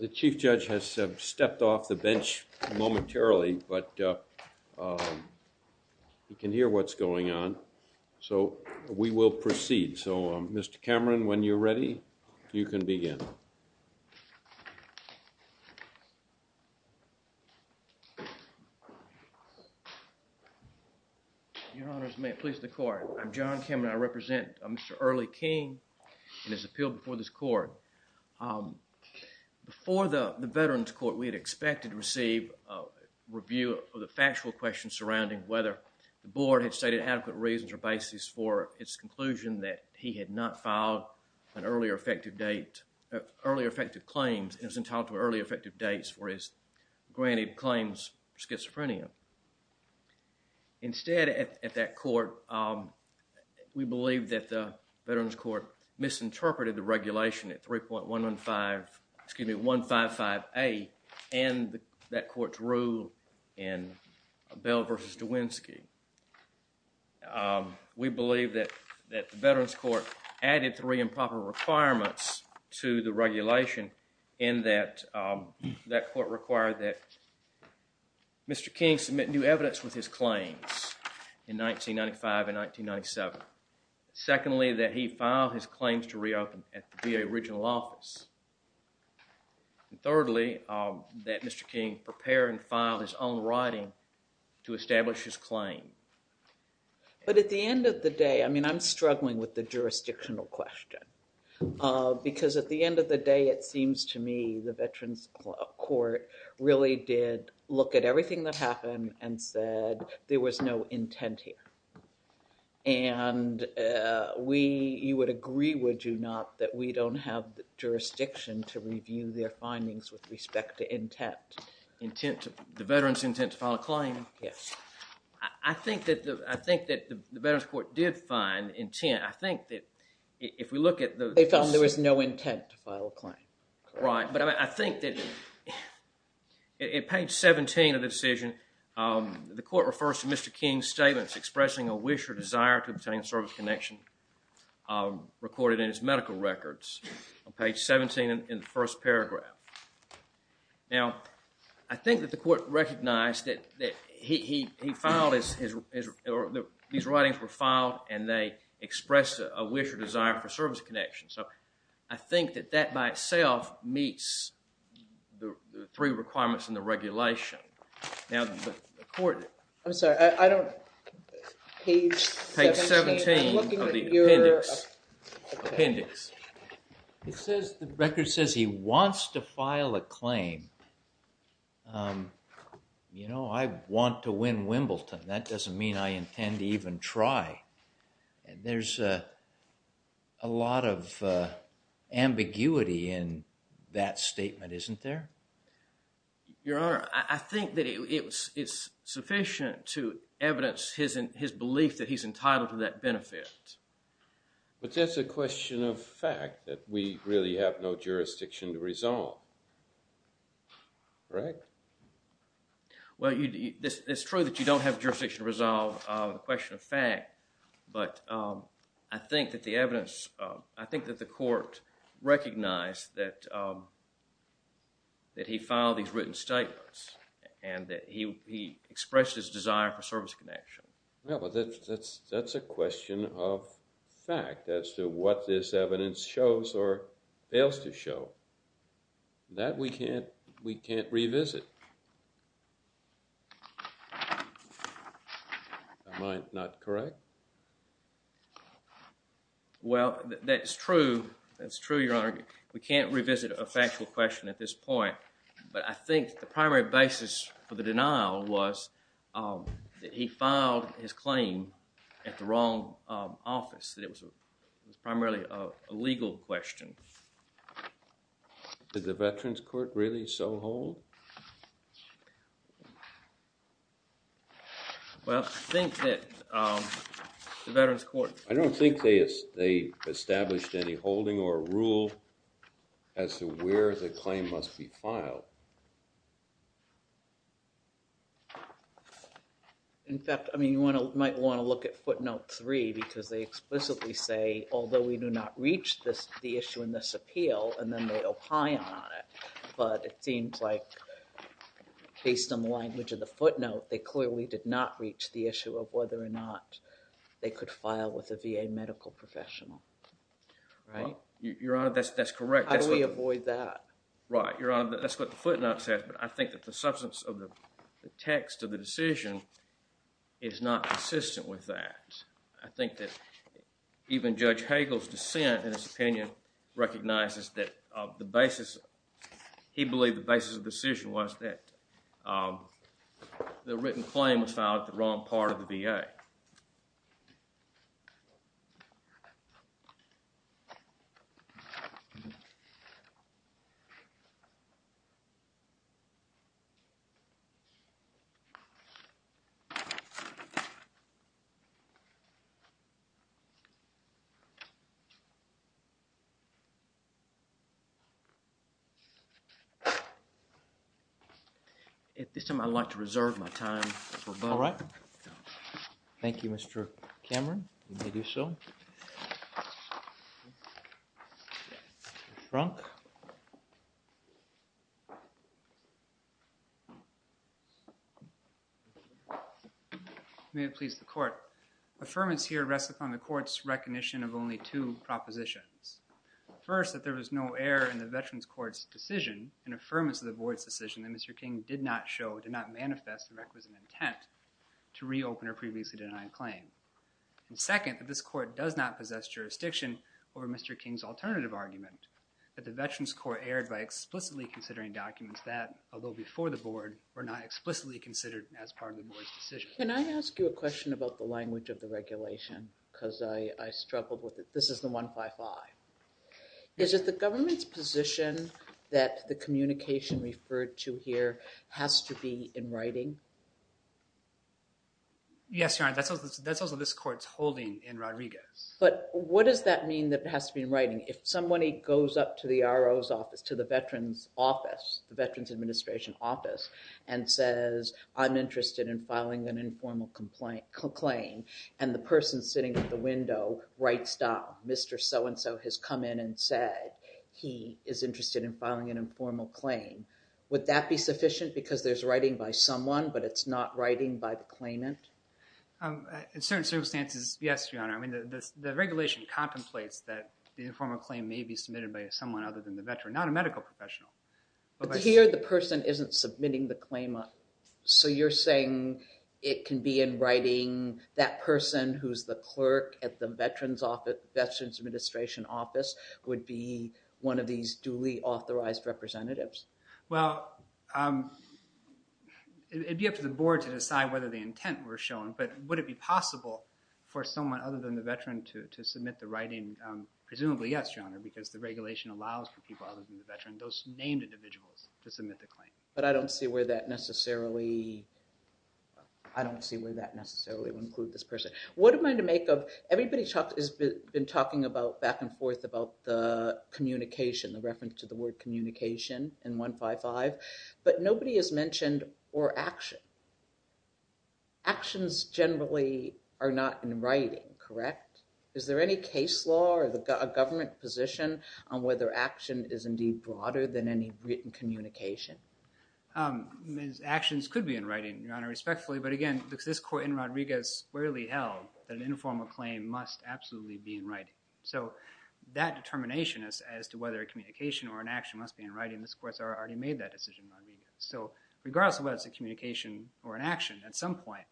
The Chief Judge has stepped off the bench momentarily, but you can hear what's going on, so we will proceed. So, Mr. Cameron, when you're ready, you can begin. Your Honor, as may it please the Court, I'm John Cameron. I represent Mr. Early King and his appeal before this Court. Before the Veterans Court, we had expected to receive a review of the factual questions surrounding whether the Board had stated adequate reasons or basis for its conclusion that he had not filed an earlier effective date, earlier effective claims, and was entitled to earlier effective dates for his granted claims for schizophrenia. Instead, at that Court, we believe that the Veterans Court misinterpreted the regulation at 3.115, excuse me, 155A and that Court's rule in Bell v. DeWinski. We believe that the Veterans Court added three improper requirements to the regulation in that that Court required that Mr. King submit new evidence with his claims in 1995 and 1997. Secondly, that he file his claims to reopen at the VA Regional Office. Thirdly, that Mr. King prepare and file his own writing to establish his claim. But at the end of the day, I mean, I'm struggling with the jurisdictional question. Because at the end of the day, it seems to me the Veterans Court really did look at everything that happened and said there was no intent here. And we, you would agree, would you not, that we don't have the jurisdiction to review their findings with respect to intent? Intent, the Veterans intent to file a claim? Yes. I think that the Veterans Court did find intent. I think that if we look at the… They found there was no intent to file a claim. Right, but I think that at page 17 of the decision, the Court refers to Mr. King's statements expressing a wish or desire to obtain a service connection recorded in his medical records on page 17 in the first paragraph. Now, I think that the Court recognized that he filed his… These writings were filed and they expressed a wish or desire for service connection. So, I think that that by itself meets the three requirements in the regulation. Now, the Court… I'm sorry, I don't… Page 17 of the appendix. Appendix. It says, the record says he wants to file a claim. You know, I want to win Wimbledon. That doesn't mean I intend to even try. There's a lot of ambiguity in that statement, isn't there? Your Honor, I think that it's sufficient to evidence his belief that he's entitled to that benefit. But that's a question of fact that we really have no jurisdiction to resolve. Correct? Well, it's true that you don't have jurisdiction to resolve the question of fact. But I think that the evidence… I think that the Court recognized that he filed these written statements and that he expressed his desire for service connection. Yeah, but that's a question of fact as to what this evidence shows or fails to show. That we can't revisit. Am I not correct? Well, that's true. That's true, Your Honor. We can't revisit a factual question at this point. But I think the primary basis for the denial was that he filed his claim at the wrong office. It was primarily a legal question. Did the Veterans Court really so hold? Well, I think that the Veterans Court… I don't think they established any holding or rule as to where the claim must be filed. In fact, you might want to look at footnote 3 because they explicitly say, although we do not reach the issue in this appeal, and then they opine on it. But it seems like, based on the language of the footnote, they clearly did not reach the issue of whether or not they could file with a VA medical professional. Right? Your Honor, that's correct. How do we avoid that? Right, Your Honor. That's what the footnote says. But I think that the substance of the text of the decision is not consistent with that. I think that even Judge Hagel's dissent, in his opinion, recognizes that the basis… he believed the basis of the decision was that the written claim was filed at the wrong part of the VA. Thank you. At this time, I'd like to reserve my time for… All right. Thank you, Mr. Cameron. You may do so. Thank you. Mr. Frunk. May it please the Court. Affirmance here rests upon the Court's recognition of only two propositions. First, that there was no error in the Veterans Court's decision, an affirmance of the Board's decision that Mr. King did not show, did not manifest the requisite intent to reopen a previously denied claim. And second, that this Court does not possess jurisdiction over Mr. King's alternative argument, that the Veterans Court erred by explicitly considering documents that, although before the Board, were not explicitly considered as part of the Board's decision. Can I ask you a question about the language of the regulation? Because I struggled with it. This is the 155. Is it the government's position that the communication referred to here has to be in writing? Yes, Your Honor. That's also this Court's holding in Rodriguez. But what does that mean that it has to be in writing? If somebody goes up to the RO's office, to the Veterans Office, the Veterans Administration Office, and says, I'm interested in filing an informal claim, and the person sitting at the window writes down, Mr. So-and-so has come in and said he is interested in filing an informal claim, would that be sufficient because there's writing by someone but it's not writing by the claimant? In certain circumstances, yes, Your Honor. The regulation contemplates that the informal claim may be submitted by someone other than the veteran, not a medical professional. But here the person isn't submitting the claim. So you're saying it can be in writing, that person who's the clerk at the Veterans Administration Office would be one of these duly authorized representatives? Well, it would be up to the board to decide whether the intent were shown, but would it be possible for someone other than the veteran to submit the writing? Presumably yes, Your Honor, because the regulation allows for people other than the veteran, those named individuals, to submit the claim. But I don't see where that necessarily would include this person. Everybody has been talking back and forth about the communication, the reference to the word communication in 155, but nobody has mentioned or action. Actions generally are not in writing, correct? Is there any case law or a government position on whether action is indeed broader than any written communication? Actions could be in writing, Your Honor, respectfully, but again, this court in Rodriguez squarely held that an informal claim must absolutely be in writing. So that determination as to whether a communication or an action must be in writing, this court's already made that decision in Rodriguez. So regardless of whether it's a communication or an action, at some point,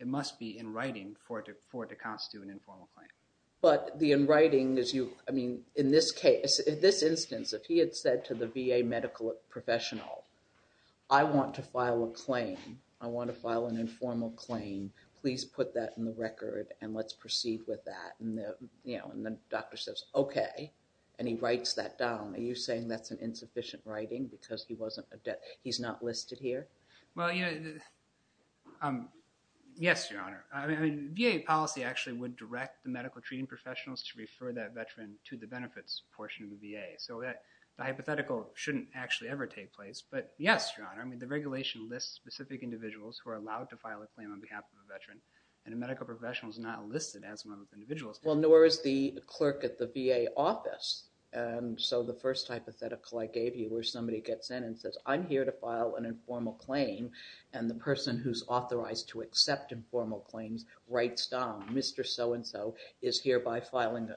it must be in writing for it to constitute an informal claim. But the in writing is you, I mean, in this case, in this instance, if he had said to the VA medical professional, I want to file a claim, I want to file an informal claim, please put that in the record and let's proceed with that. And the doctor says, okay, and he writes that down. Are you saying that's an insufficient writing because he's not listed here? Well, yes, Your Honor. VA policy actually would direct the medical treating professionals to refer that veteran to the benefits portion of the VA. So the hypothetical shouldn't actually ever take place. But yes, Your Honor, I mean, the regulation lists specific individuals who are allowed to file a claim on behalf of a veteran and a medical professional is not listed as one of the individuals. Well, nor is the clerk at the VA office. And so the first hypothetical I gave you where somebody gets in and says, I'm here to file an informal claim and the person who's authorized to accept informal claims writes down, Mr. So-and-so is hereby filing,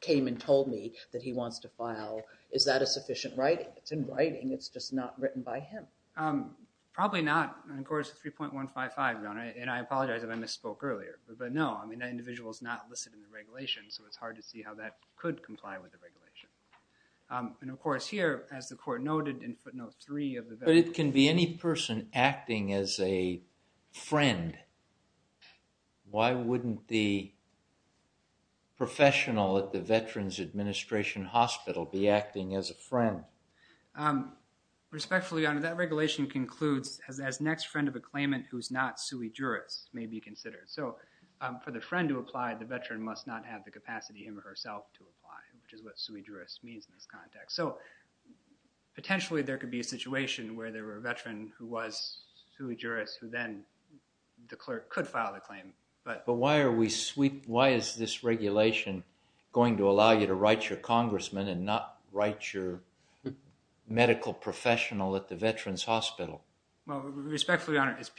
came and told me that he wants to file, is that a sufficient writing? It's in writing. It's just not written by him. Probably not. And, of course, 3.155, Your Honor, and I apologize if I misspoke earlier. But, no, I mean, that individual is not listed in the regulation, so it's hard to see how that could comply with the regulation. And, of course, here, as the court noted in footnote 3 of the veteran's... But it can be any person acting as a friend. Why wouldn't the professional at the veteran's administration hospital be acting as a friend? Respectfully, Your Honor, that regulation concludes, as next friend of a claimant who's not sui juris may be considered. So for the friend to apply, the veteran must not have the capacity him or herself to apply, which is what sui juris means in this context. So potentially there could be a situation where there were a veteran who was sui juris who then the clerk could file the claim. But why is this regulation going to allow you to write your congressman and not write your medical professional at the veteran's hospital? Well, respectfully, Your Honor, it's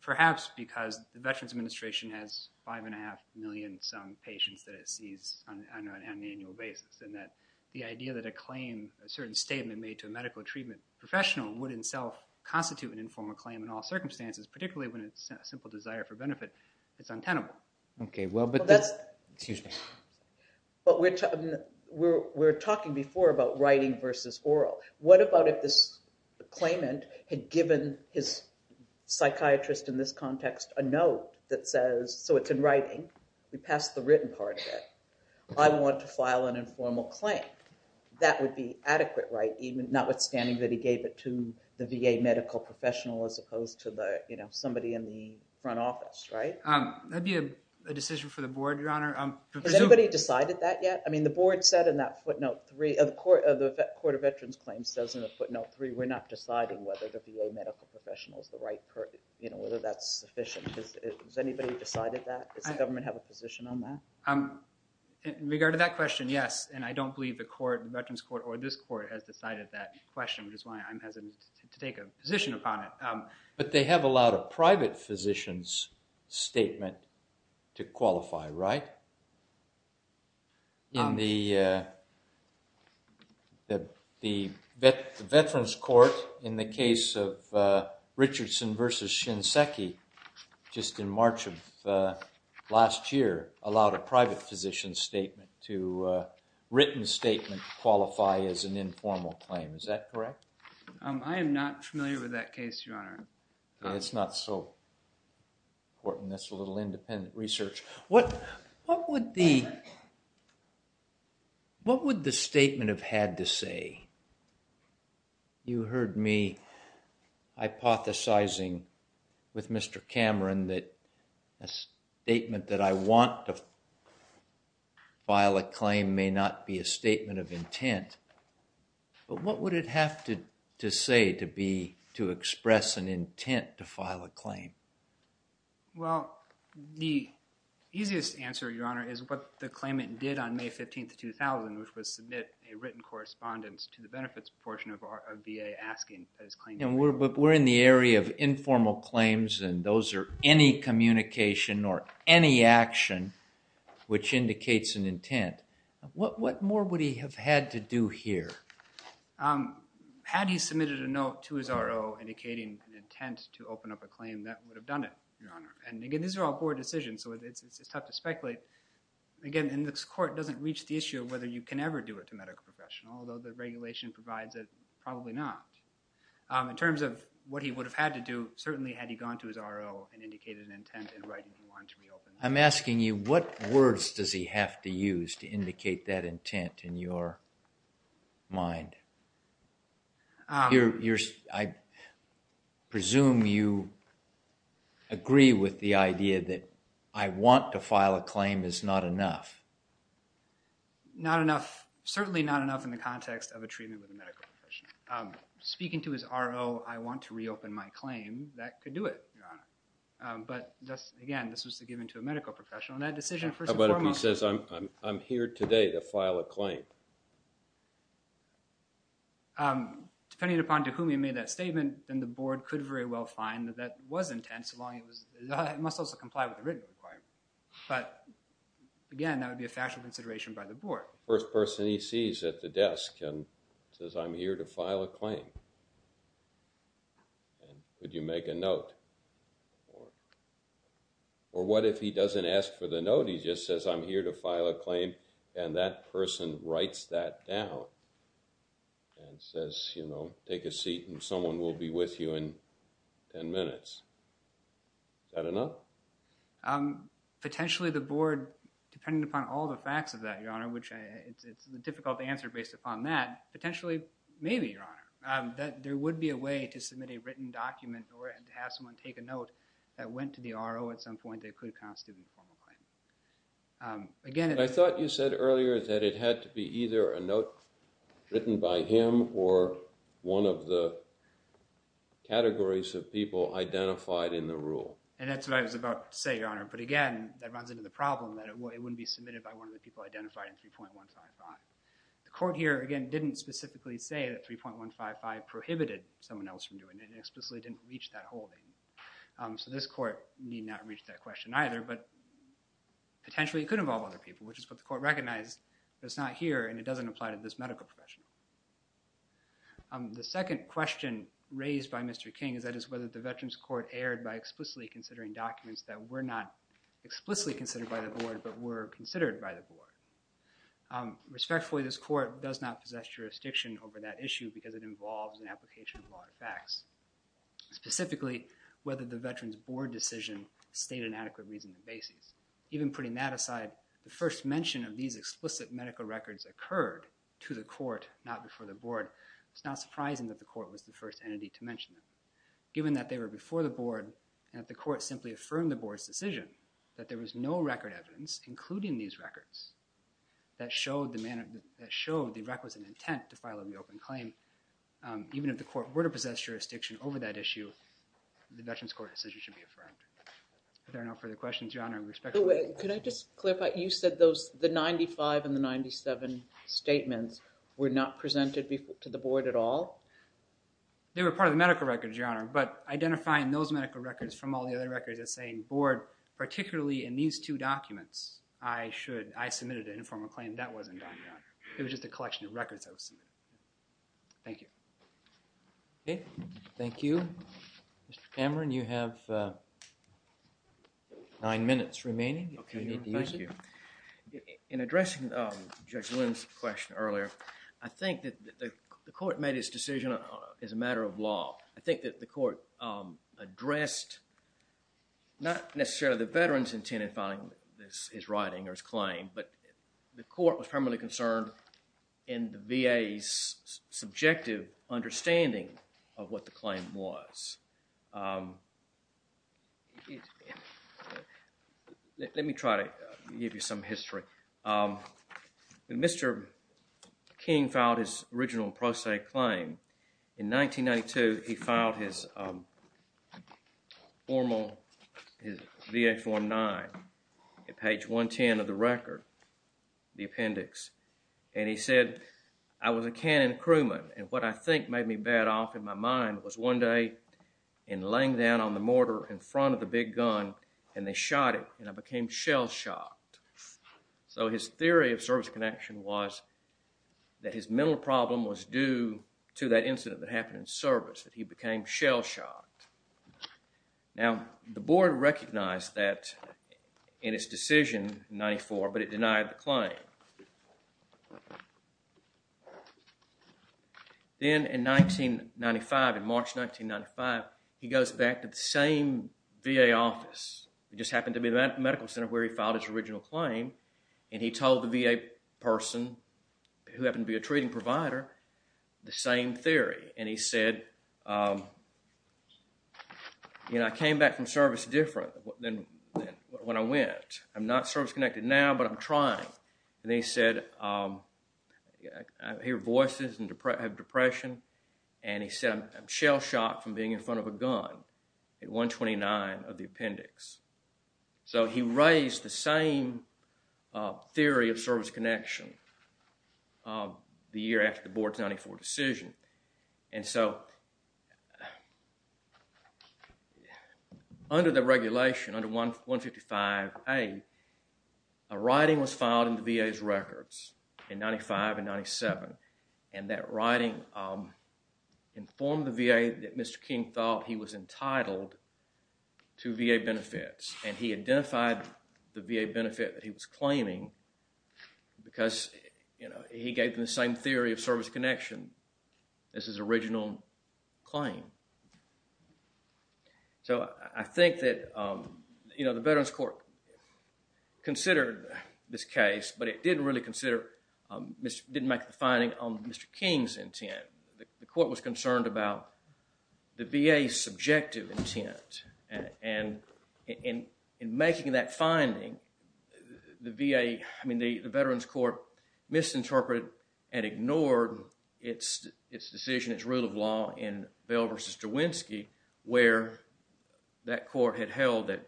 perhaps because the veteran's administration has 5.5 million some patients that it sees on an annual basis, and that the idea that a claim, a certain statement made to a medical treatment professional would in itself constitute an informal claim in all circumstances, particularly when it's a simple desire for benefit, it's untenable. Okay, well, but that's... Excuse me. But we were talking before about writing versus oral. What about if this claimant had given his psychiatrist in this context a note that says, so it's in writing, we passed the written part of it, I want to file an informal claim. That would be adequate, right? Notwithstanding that he gave it to the VA medical professional as opposed to somebody in the front office, right? That would be a decision for the board, Your Honor. Has anybody decided that yet? I mean, the board said in that footnote three, the Court of Veterans Claims says in the footnote three, we're not deciding whether the VA medical professional is the right person, whether that's sufficient. Has anybody decided that? Does the government have a position on that? In regard to that question, yes. And I don't believe the veterans court or this court has decided that question, which is why I'm hesitant to take a position upon it. But they have allowed a private physician's statement to qualify, right? The veterans court in the case of Richardson versus Shinseki just in March of last year allowed a private physician's statement to a written statement to qualify as an informal claim. Is that correct? I am not familiar with that case, Your Honor. It's not so important. That's a little independent research. What would the statement have had to say? You heard me hypothesizing with Mr. Cameron that a statement that I want to file a claim may not be a statement of intent. But what would it have to say to express an intent to file a claim? Well, the easiest answer, Your Honor, is what the claimant did on May 15, 2000, which was submit a written correspondence to the benefits portion of VA asking. But we're in the area of informal claims, and those are any communication or any action which indicates an intent. What more would he have had to do here? Had he submitted a note to his RO indicating an intent to open up a claim, that would have done it, Your Honor. And again, these are all board decisions, so it's tough to speculate. Again, and this court doesn't reach the issue of whether you can ever do it to a medical professional, although the regulation provides it, probably not. In terms of what he would have had to do, certainly had he gone to his RO and indicated an intent in writing he wanted to reopen. I'm asking you, what words does he have to use to indicate that intent in your mind? I presume you agree with the idea that I want to file a claim is not enough. Not enough, certainly not enough in the context of a treatment with a medical professional. Speaking to his RO, I want to reopen my claim, that could do it, Your Honor. But again, this was given to a medical professional, and that decision first and foremost. He says, I'm here today to file a claim. Depending upon to whom he made that statement, then the board could very well find that that was intense, it must also comply with the written requirement. But again, that would be a factual consideration by the board. First person he sees at the desk and says, I'm here to file a claim. Could you make a note? Or what if he doesn't ask for the note, he just says, I'm here to file a claim, and that person writes that down and says, you know, take a seat and someone will be with you in ten minutes. Is that enough? Potentially the board, depending upon all the facts of that, Your Honor, which it's difficult to answer based upon that, potentially, maybe, Your Honor, that there would be a way to submit a written document or to have someone take a note that went to the RO at some point that could constitute a formal claim. I thought you said earlier that it had to be either a note written by him or one of the categories of people identified in the rule. And that's what I was about to say, Your Honor. But again, that runs into the problem that it wouldn't be submitted by one of the people identified in 3.155. The court here, again, didn't specifically say that 3.155 prohibited someone else from doing it. It explicitly didn't reach that holding. So this court need not reach that question either, but potentially it could involve other people, which is what the court recognized, but it's not here and it doesn't apply to this medical professional. The second question raised by Mr. King is that is whether the Veterans Court erred by explicitly considering documents that were not explicitly considered by the board but were considered by the board. Respectfully, this court does not possess jurisdiction over that issue because it involves an application of law and facts. Specifically, whether the Veterans Board decision stated an adequate reason and basis. Even putting that aside, the first mention of these explicit medical records occurred to the court, not before the board. It's not surprising that the court was the first entity to mention them. Given that they were before the board and that the court simply affirmed the board's decision that there was no record evidence including these records, that showed the requisite intent to file an open claim, even if the court were to possess jurisdiction over that issue, the Veterans Court decision should be affirmed. Are there no further questions, Your Honor? Could I just clarify? You said the 95 and the 97 statements were not presented to the board at all? They were part of the medical records, Your Honor, but identifying those medical records from all the other records is saying, board, particularly in these two documents, I submitted an informal claim. That wasn't done, Your Honor. It was just a collection of records that was submitted. Thank you. Thank you. Mr. Cameron, you have nine minutes remaining if you need to use it. Thank you. In addressing Judge Lynn's question earlier, I think that the court made its decision as a matter of law. I think that the court addressed not necessarily the veteran's intent in filing his writing or his claim, but the court was primarily concerned in the VA's subjective understanding of what the claim was. Let me try to give you some history. When Mr. King filed his original pro se claim in 1992, he filed his formal, his VX-19, at page 110 of the record, the appendix, and he said, I was a cannon crewman, and what I think made me bad off in my mind was one day in laying down on the mortar in front of the big gun, and they shot it, and I became shell-shocked. So his theory of service connection was that his mental problem was due to that incident that happened in service, that he became shell-shocked. Now, the board recognized that in its decision in 1994, but it denied the claim. Then in 1995, in March 1995, he goes back to the same VA office. It just happened to be the medical center where he filed his original claim, and he told the VA person, who happened to be a treating provider, the same theory, and he said, I came back from service different than when I went. I'm not service-connected now, but I'm trying. Then he said, I hear voices of depression, and he said, I'm shell-shocked from being in front of a gun, at 129 of the appendix. So he raised the same theory of service connection the year after the board's 94 decision. And so, under the regulation, under 155A, a writing was filed in the VA's records in 95 and 97, and that writing informed the VA that Mr. King thought he was entitled to VA benefits, and he identified the VA benefit that he was claiming because he gave them the same theory of service connection as his original claim. So I think that the Veterans Court considered this case, but it didn't really consider, didn't make the finding on Mr. King's intent. The court was concerned about the VA's subjective intent, and in making that finding, the VA, I mean, the Veterans Court misinterpreted and ignored its decision, its rule of law in Bell v. Jawinski, where that court had held that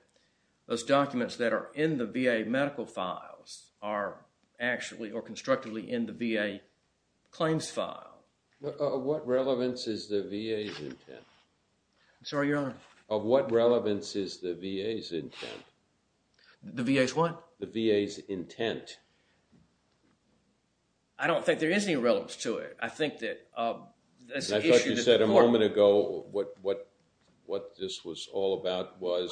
those documents that are in the VA medical files are actually or constructively in the VA claims file. What relevance is the VA's intent? I'm sorry, Your Honor. What relevance is the VA's intent? The VA's what? The VA's intent. I don't think there is any relevance to it. I think that as an issue that the court— I thought you said a moment ago what this was all about was—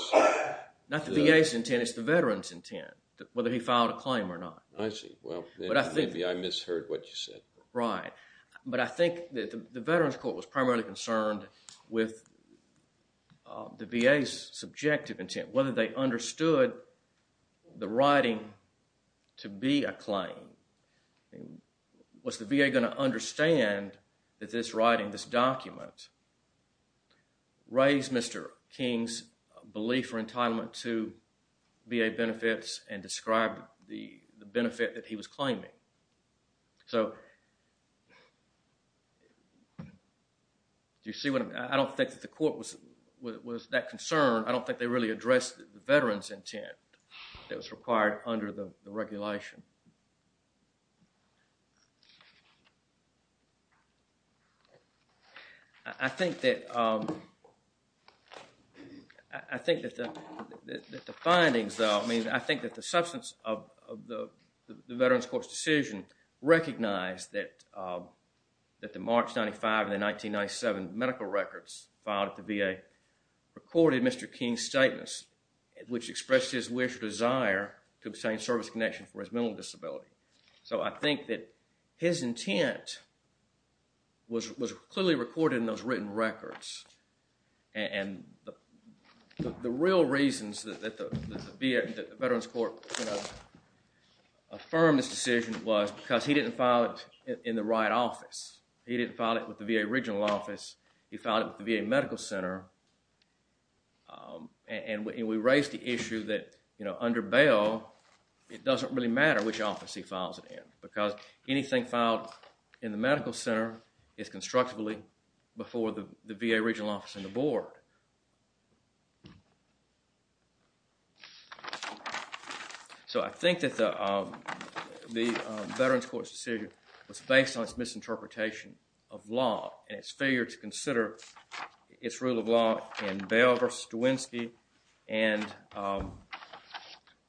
Not the VA's intent. It's the Veterans' intent, whether he filed a claim or not. I see. Well, maybe I misheard what you said. Right. But I think that the Veterans Court was primarily concerned with the VA's subjective intent, whether they understood the writing to be a claim. Was the VA going to understand that this writing, this document, raised Mr. King's belief or entitlement to VA benefits and described the benefit that he was claiming? So, do you see what I'm— I don't think that the court was that concerned. I don't think they really addressed the Veterans' intent that was required under the regulation. I think that the findings, though— I mean, I think that the substance of the Veterans' Court's decision recognized that the March 95 and the 1997 medical records filed at the VA recorded Mr. King's statements, which expressed his wish or desire to obtain service connection for his mental disability. So, I think that his intent was clearly recorded in those written records. And the real reasons that the Veterans' Court affirmed this decision was because he didn't file it in the right office. He didn't file it with the VA regional office. He filed it with the VA medical center. And we raised the issue that under bail, it doesn't really matter which office he files it in because anything filed in the medical center is constructively before the VA regional office and the board. So, I think that the Veterans' Court's decision was based on its misinterpretation of law and its failure to consider its rule of law in Bail v. DeWinski and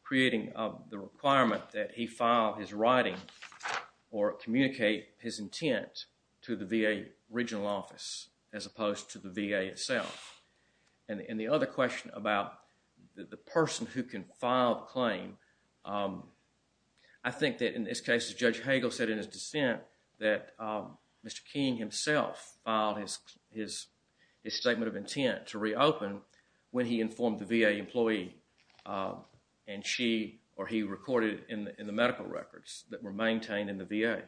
creating the requirement that he file his writing or communicate his intent to the VA regional office as opposed to the VA itself. And the other question about the person who can file the claim, I think that in this case, Judge Hagel said in his dissent that Mr. King himself filed his statement of intent to reopen when he informed the VA employee and she or he recorded in the medical records that were maintained in the VA.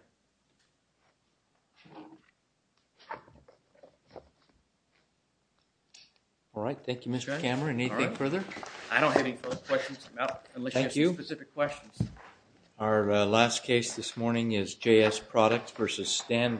All right. Thank you, Mr. Kammerer. Anything further? I don't have any further questions. Thank you. Unless you have specific questions. Our last case this morning is J.S. Products v. Stanville.